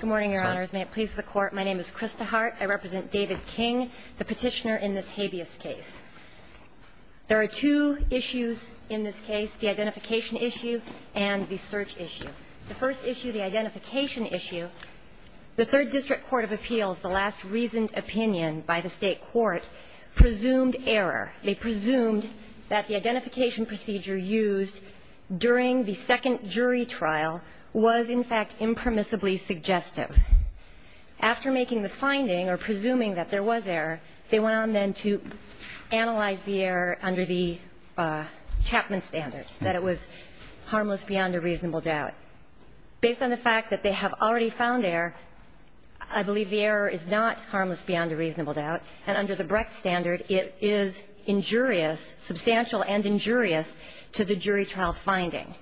Good morning, Your Honors. May it please the Court, my name is Krista Hart. I represent David King, the petitioner in this habeas case. There are two issues in this case, the identification issue and the search issue. The first issue, the identification issue, the Third District Court of Appeals, the last reasoned opinion by the State Court, presumed error. They presumed that the identification procedure used during the second jury trial was, in fact, impermissibly suggestive. After making the finding or presuming that there was error, they went on then to analyze the error under the Chapman standard, that it was harmless beyond a reasonable doubt. Based on the fact that they have already found error, I believe the error is not harmless beyond a reasonable doubt, and under the Brecht standard, it is injurious, substantial and injurious, to the jury trial finding.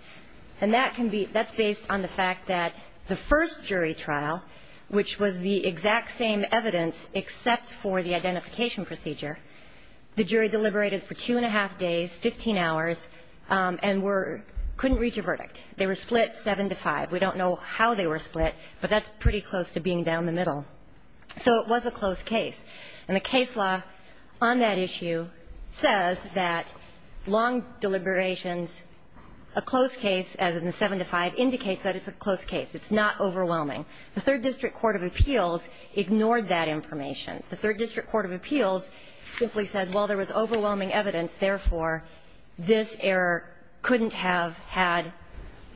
And that can be – that's based on the fact that the first jury trial, which was the exact same evidence except for the identification procedure, the jury deliberated for two and a half days, 15 hours, and were – couldn't reach a verdict. They were split seven to five. We don't know how they were split, but that's pretty close to being down the middle. So it was a close case. And the case law on that issue says that long deliberations, a close case, as in the seven to five, indicates that it's a close case. It's not overwhelming. The Third District Court of Appeals ignored that information. The Third District Court of Appeals simply said, well, there was overwhelming evidence, therefore, this error couldn't have had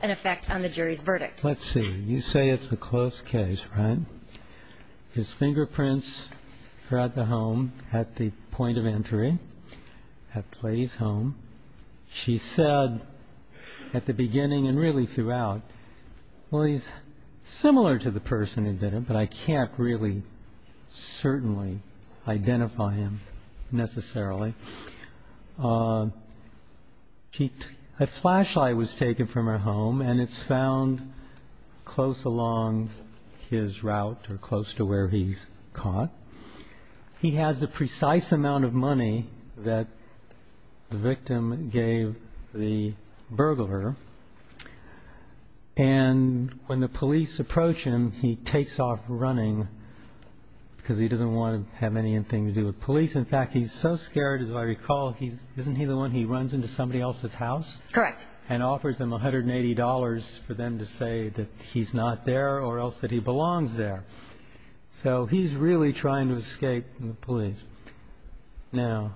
an effect on the jury's verdict. Let's see. You say it's a close case, right? His fingerprints are at the home, at the point of entry, at Clay's home. She said at the beginning and really throughout, well, he's similar to the person who did it, but I can't really certainly identify him necessarily. A flashlight was taken from her home, and it's found close along his route or close to where he's caught. He has the precise amount of money that the victim gave the burglar. And when the police approach him, he takes off running because he doesn't want to have anything to do with police. In fact, he's so scared, as I recall, isn't he the one who runs into somebody else's house? Correct. And offers them $180 for them to say that he's not there or else that he belongs there. So he's really trying to escape the police. Now,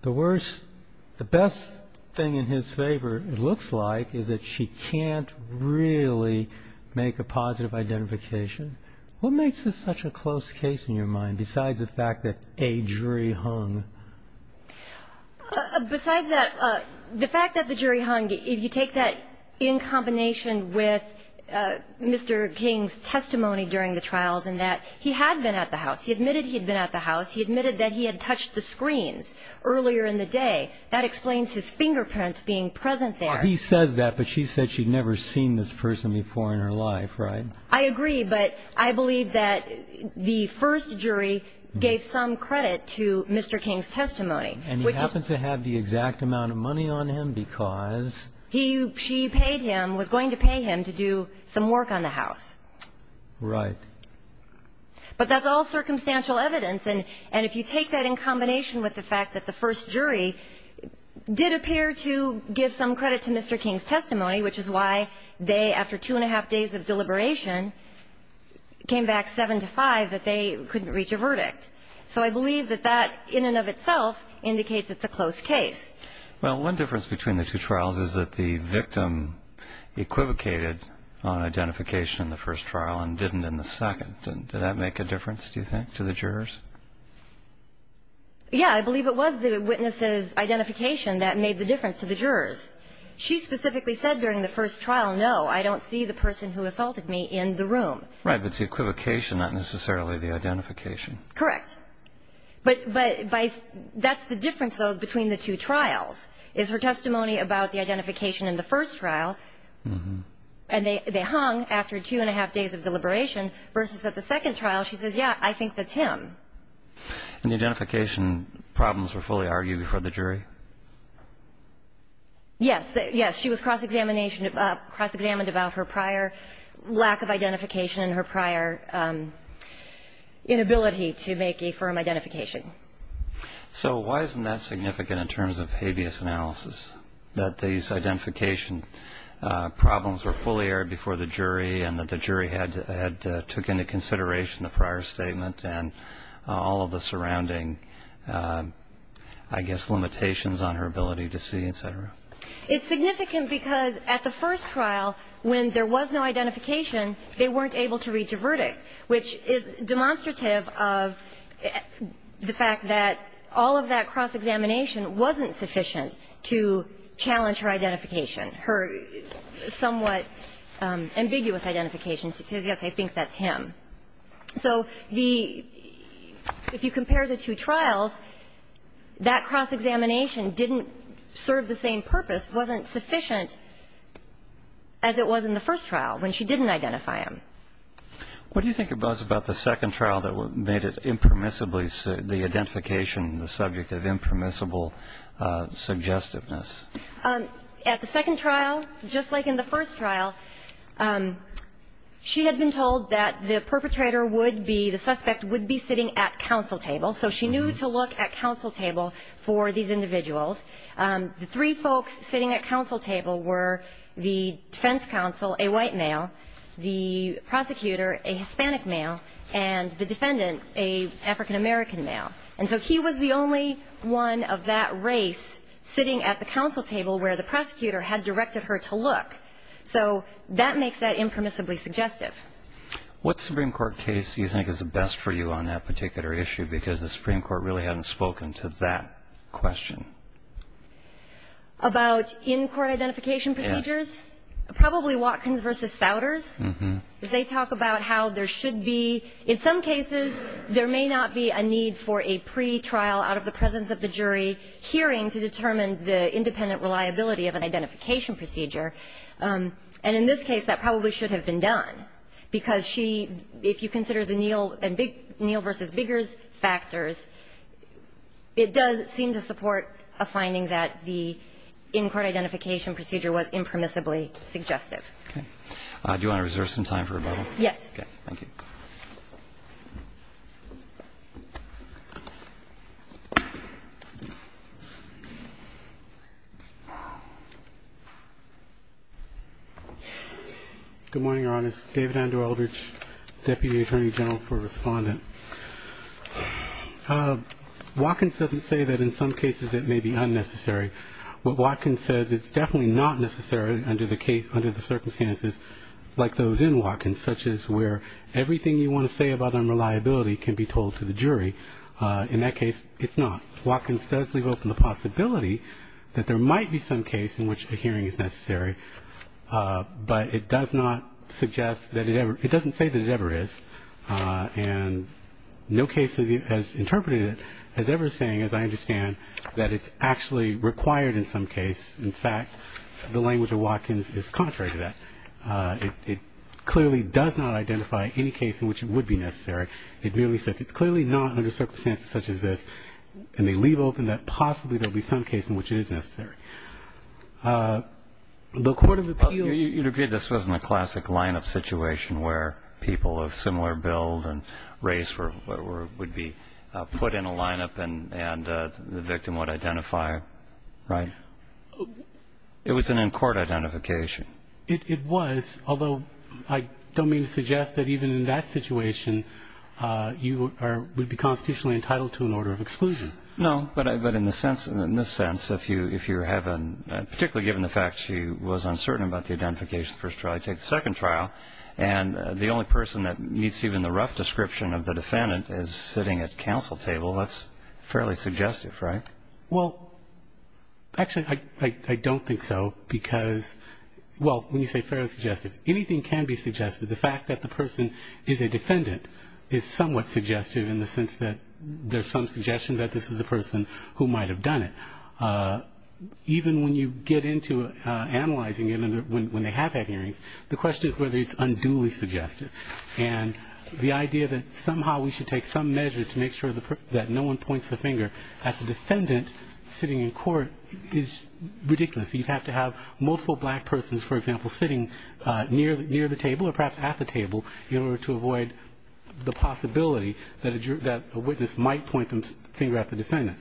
the worst, the best thing in his favor, it looks like, is that she can't really make a positive identification. What makes this such a close case in your mind besides the fact that a jury hung? Besides that, the fact that the jury hung, if you take that in combination with Mr. King's testimony during the trials and that he had been at the house, he admitted he had been at the house, he admitted that he had touched the screens earlier in the day, that explains his fingerprints being present there. Well, he says that, but she said she'd never seen this person before in her life, right? I agree, but I believe that the first jury gave some credit to Mr. King's testimony. And he happened to have the exact amount of money on him because? She paid him, was going to pay him to do some work on the house. Right. But that's all circumstantial evidence. And if you take that in combination with the fact that the first jury did appear to give some credit to Mr. King's testimony, which is why they, after two and a half days of deliberation, came back seven to five that they couldn't reach a verdict. So I believe that that in and of itself indicates it's a close case. Well, one difference between the two trials is that the victim equivocated on identification in the first trial and didn't in the second. Did that make a difference, do you think, to the jurors? Yeah, I believe it was the witness's identification that made the difference to the jurors. She specifically said during the first trial, no, I don't see the person who assaulted me in the room. Right, but it's the equivocation, not necessarily the identification. Correct. But that's the difference, though, between the two trials, is her testimony about the identification in the first trial, and they hung after two and a half days of deliberation, versus at the second trial she says, yeah, I think that's him. And the identification problems were fully argued before the jury? Yes. Yes. She was cross-examined about her prior lack of identification and her prior inability to make a firm identification. So why isn't that significant in terms of habeas analysis, that these identification problems were fully aired before the jury and that the jury had took into consideration the prior statement and all of the surrounding, I guess, limitations on her ability to see, et cetera? It's significant because at the first trial, when there was no identification, they weren't able to reach a verdict, which is demonstrative of the fact that all of that cross-examination wasn't sufficient to challenge her identification, her somewhat ambiguous identification. She says, yes, I think that's him. So the – if you compare the two trials, that cross-examination didn't serve the same purpose, wasn't sufficient as it was in the first trial when she didn't identify him. What do you think it was about the second trial that made it impermissibly – the identification, the subject of impermissible suggestiveness? At the second trial, just like in the first trial, she had been told that the perpetrator would be – the suspect would be sitting at counsel table. So she knew to look at counsel table for these individuals. The three folks sitting at counsel table were the defense counsel, a white male, the prosecutor, a Hispanic male, and the defendant, an African-American male. And so he was the only one of that race sitting at the counsel table where the prosecutor had directed her to look. So that makes that impermissibly suggestive. What Supreme Court case do you think is the best for you on that particular issue? Because the Supreme Court really hadn't spoken to that question. About in-court identification procedures? Yes. Probably Watkins v. Souders. Mm-hmm. They talk about how there should be – in some cases, there may not be a need for a pre-trial out of the presence of the jury hearing to determine the independent reliability of an identification procedure. And in this case, that probably should have been done, because she – if you consider the Neal v. Biggers factors, it does seem to support a finding that the in-court identification procedure was impermissibly suggestive. Okay. Do you want to reserve some time for rebuttal? Yes. Okay. Thank you. Good morning, Your Honor. This is David Andrew Eldridge, Deputy Attorney General for Respondent. Watkins doesn't say that in some cases it may be unnecessary. What Watkins says, it's definitely not necessary under the circumstances like those in Watkins, such as where everything you want to say about unreliability can be told to the jury. In that case, it's not. Watkins does leave open the possibility that there might be some case in which a hearing is necessary, but it does not suggest that it ever – it doesn't say that it ever is. And no case has interpreted it as ever saying, as I understand, that it's actually required in some case. In fact, the language of Watkins is contrary to that. It clearly does not identify any case in which it would be necessary. It merely says it's clearly not under circumstances such as this, and they leave open that possibly there will be some case in which it is necessary. The court of appeals – similar bills and race would be put in a lineup and the victim would identify, right? It was an in-court identification. It was, although I don't mean to suggest that even in that situation you would be constitutionally entitled to an order of exclusion. No, but in this sense, if you have a – particularly given the fact she was uncertain about the identification of the first trial, and the only person that meets even the rough description of the defendant is sitting at counsel table, that's fairly suggestive, right? Well, actually, I don't think so because – well, when you say fairly suggestive, anything can be suggested. The fact that the person is a defendant is somewhat suggestive in the sense that there's some suggestion that this is the person who might have done it. Even when you get into analyzing it when they have had hearings, the question is whether it's unduly suggestive. And the idea that somehow we should take some measure to make sure that no one points the finger at the defendant sitting in court is ridiculous. You'd have to have multiple black persons, for example, sitting near the table or perhaps at the table in order to avoid the possibility that a witness might point the finger at the defendant.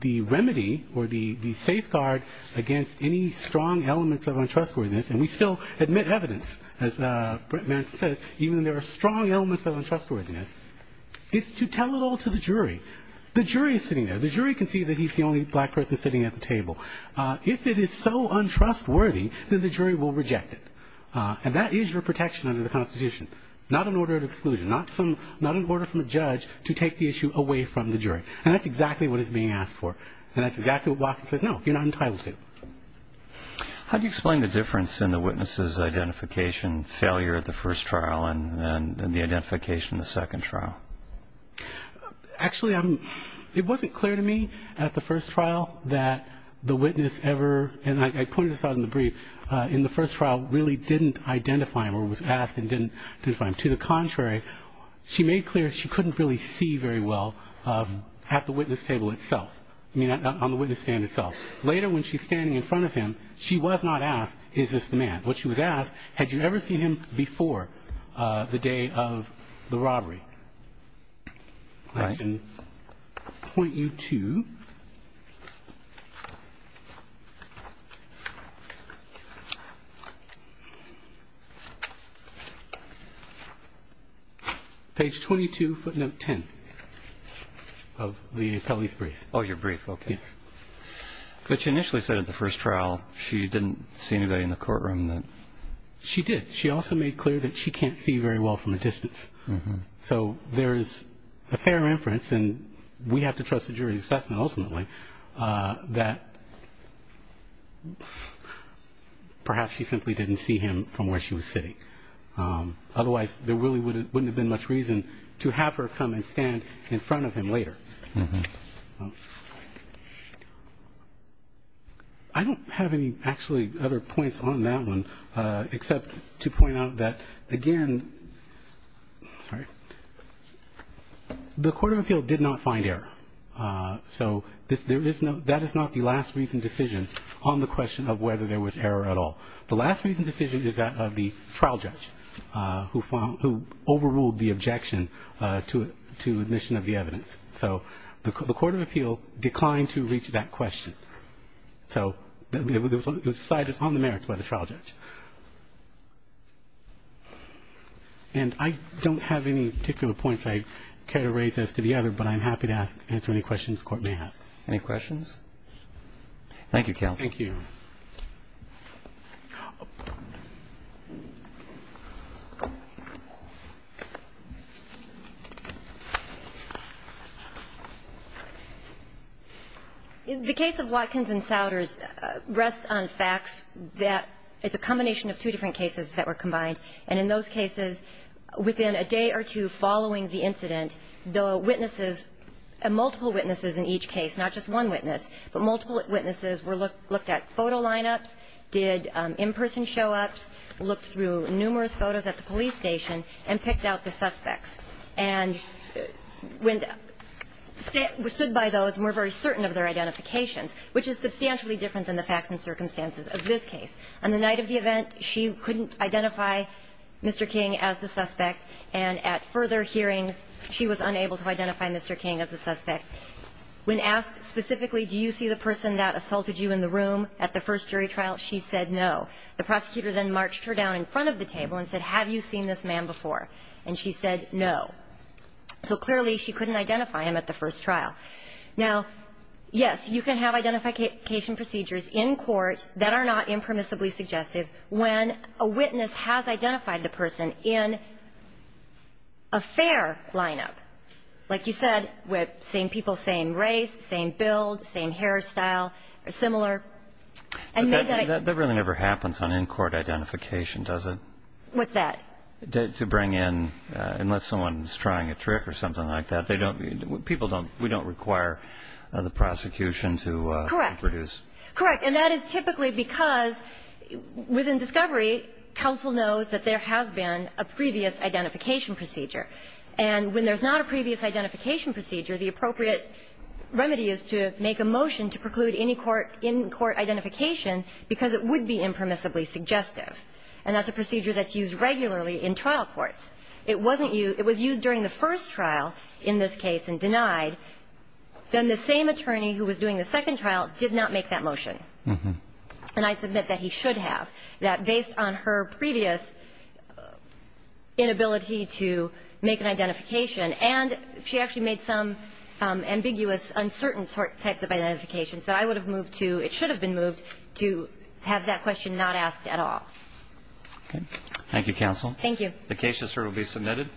The remedy or the safeguard against any strong elements of untrustworthiness, and we still admit evidence, as Brent Manson says, even when there are strong elements of untrustworthiness, is to tell it all to the jury. The jury is sitting there. The jury can see that he's the only black person sitting at the table. If it is so untrustworthy, then the jury will reject it. And that is your protection under the Constitution, not an order of exclusion, not an order from a judge to take the issue away from the jury. And that's exactly what is being asked for. And that's exactly what Watkins says, no, you're not entitled to. How do you explain the difference in the witness's identification, failure at the first trial and the identification in the second trial? Actually, it wasn't clear to me at the first trial that the witness ever, and I pointed this out in the brief, in the first trial really didn't identify him or was asked and didn't identify him. To the contrary, she made clear she couldn't really see very well at the witness table itself, I mean, on the witness stand itself. Later, when she's standing in front of him, she was not asked, is this the man? What she was asked, had you ever seen him before the day of the robbery? I can point you to page 22, footnote 10 of the appellee's brief. Oh, your brief, okay. Yes. But you initially said at the first trial she didn't see anybody in the courtroom. She did. She also made clear that she can't see very well from a distance. So there is a fair inference, and we have to trust the jury's assessment ultimately, that perhaps she simply didn't see him from where she was sitting. Otherwise, there really wouldn't have been much reason to have her come and stand in front of him later. I don't have any, actually, other points on that one except to point out that, again, the Court of Appeal did not find error. So that is not the last reasoned decision on the question of whether there was error at all. The last reasoned decision is that of the trial judge who overruled the objection to admission of the evidence. So the Court of Appeal declined to reach that question. So the side is on the merits by the trial judge. And I don't have any particular points I care to raise as to the other, but I'm happy to answer any questions the Court may have. Any questions? Thank you, counsel. Thank you. The case of Watkins and Souders rests on facts that it's a combination of two different cases that were combined, and in those cases, within a day or two following the incident, the witnesses, multiple witnesses in each case, not just one witness, but multiple witnesses were looked at. They did photo lineups, did in-person show-ups, looked through numerous photos at the police station, and picked out the suspects. And when they stood by those and were very certain of their identifications, which is substantially different than the facts and circumstances of this case, on the night of the event, she couldn't identify Mr. King as the suspect, and at further hearings, she was unable to identify Mr. King as the suspect. When asked specifically, do you see the person that assaulted you in the room at the first jury trial, she said no. The prosecutor then marched her down in front of the table and said, have you seen this man before, and she said no. So clearly, she couldn't identify him at the first trial. Now, yes, you can have identification procedures in court that are not impermissibly suggestive when a witness has identified the person in a fair lineup, like you said with same people, same race, same build, same hairstyle, or similar. That really never happens on in-court identification, does it? What's that? To bring in, unless someone's trying a trick or something like that, we don't require the prosecution to produce. Correct. And that is typically because within discovery, counsel knows that there has been a previous identification procedure. And when there's not a previous identification procedure, the appropriate remedy is to make a motion to preclude any in-court identification because it would be impermissibly suggestive. And that's a procedure that's used regularly in trial courts. It wasn't used – it was used during the first trial in this case and denied. Then the same attorney who was doing the second trial did not make that motion. And I submit that he should have. That based on her previous inability to make an identification, and she actually made some ambiguous, uncertain types of identifications, that I would have moved to – it should have been moved to have that question not asked at all. Okay. Thank you, counsel. Thank you. The case is certainly submitted.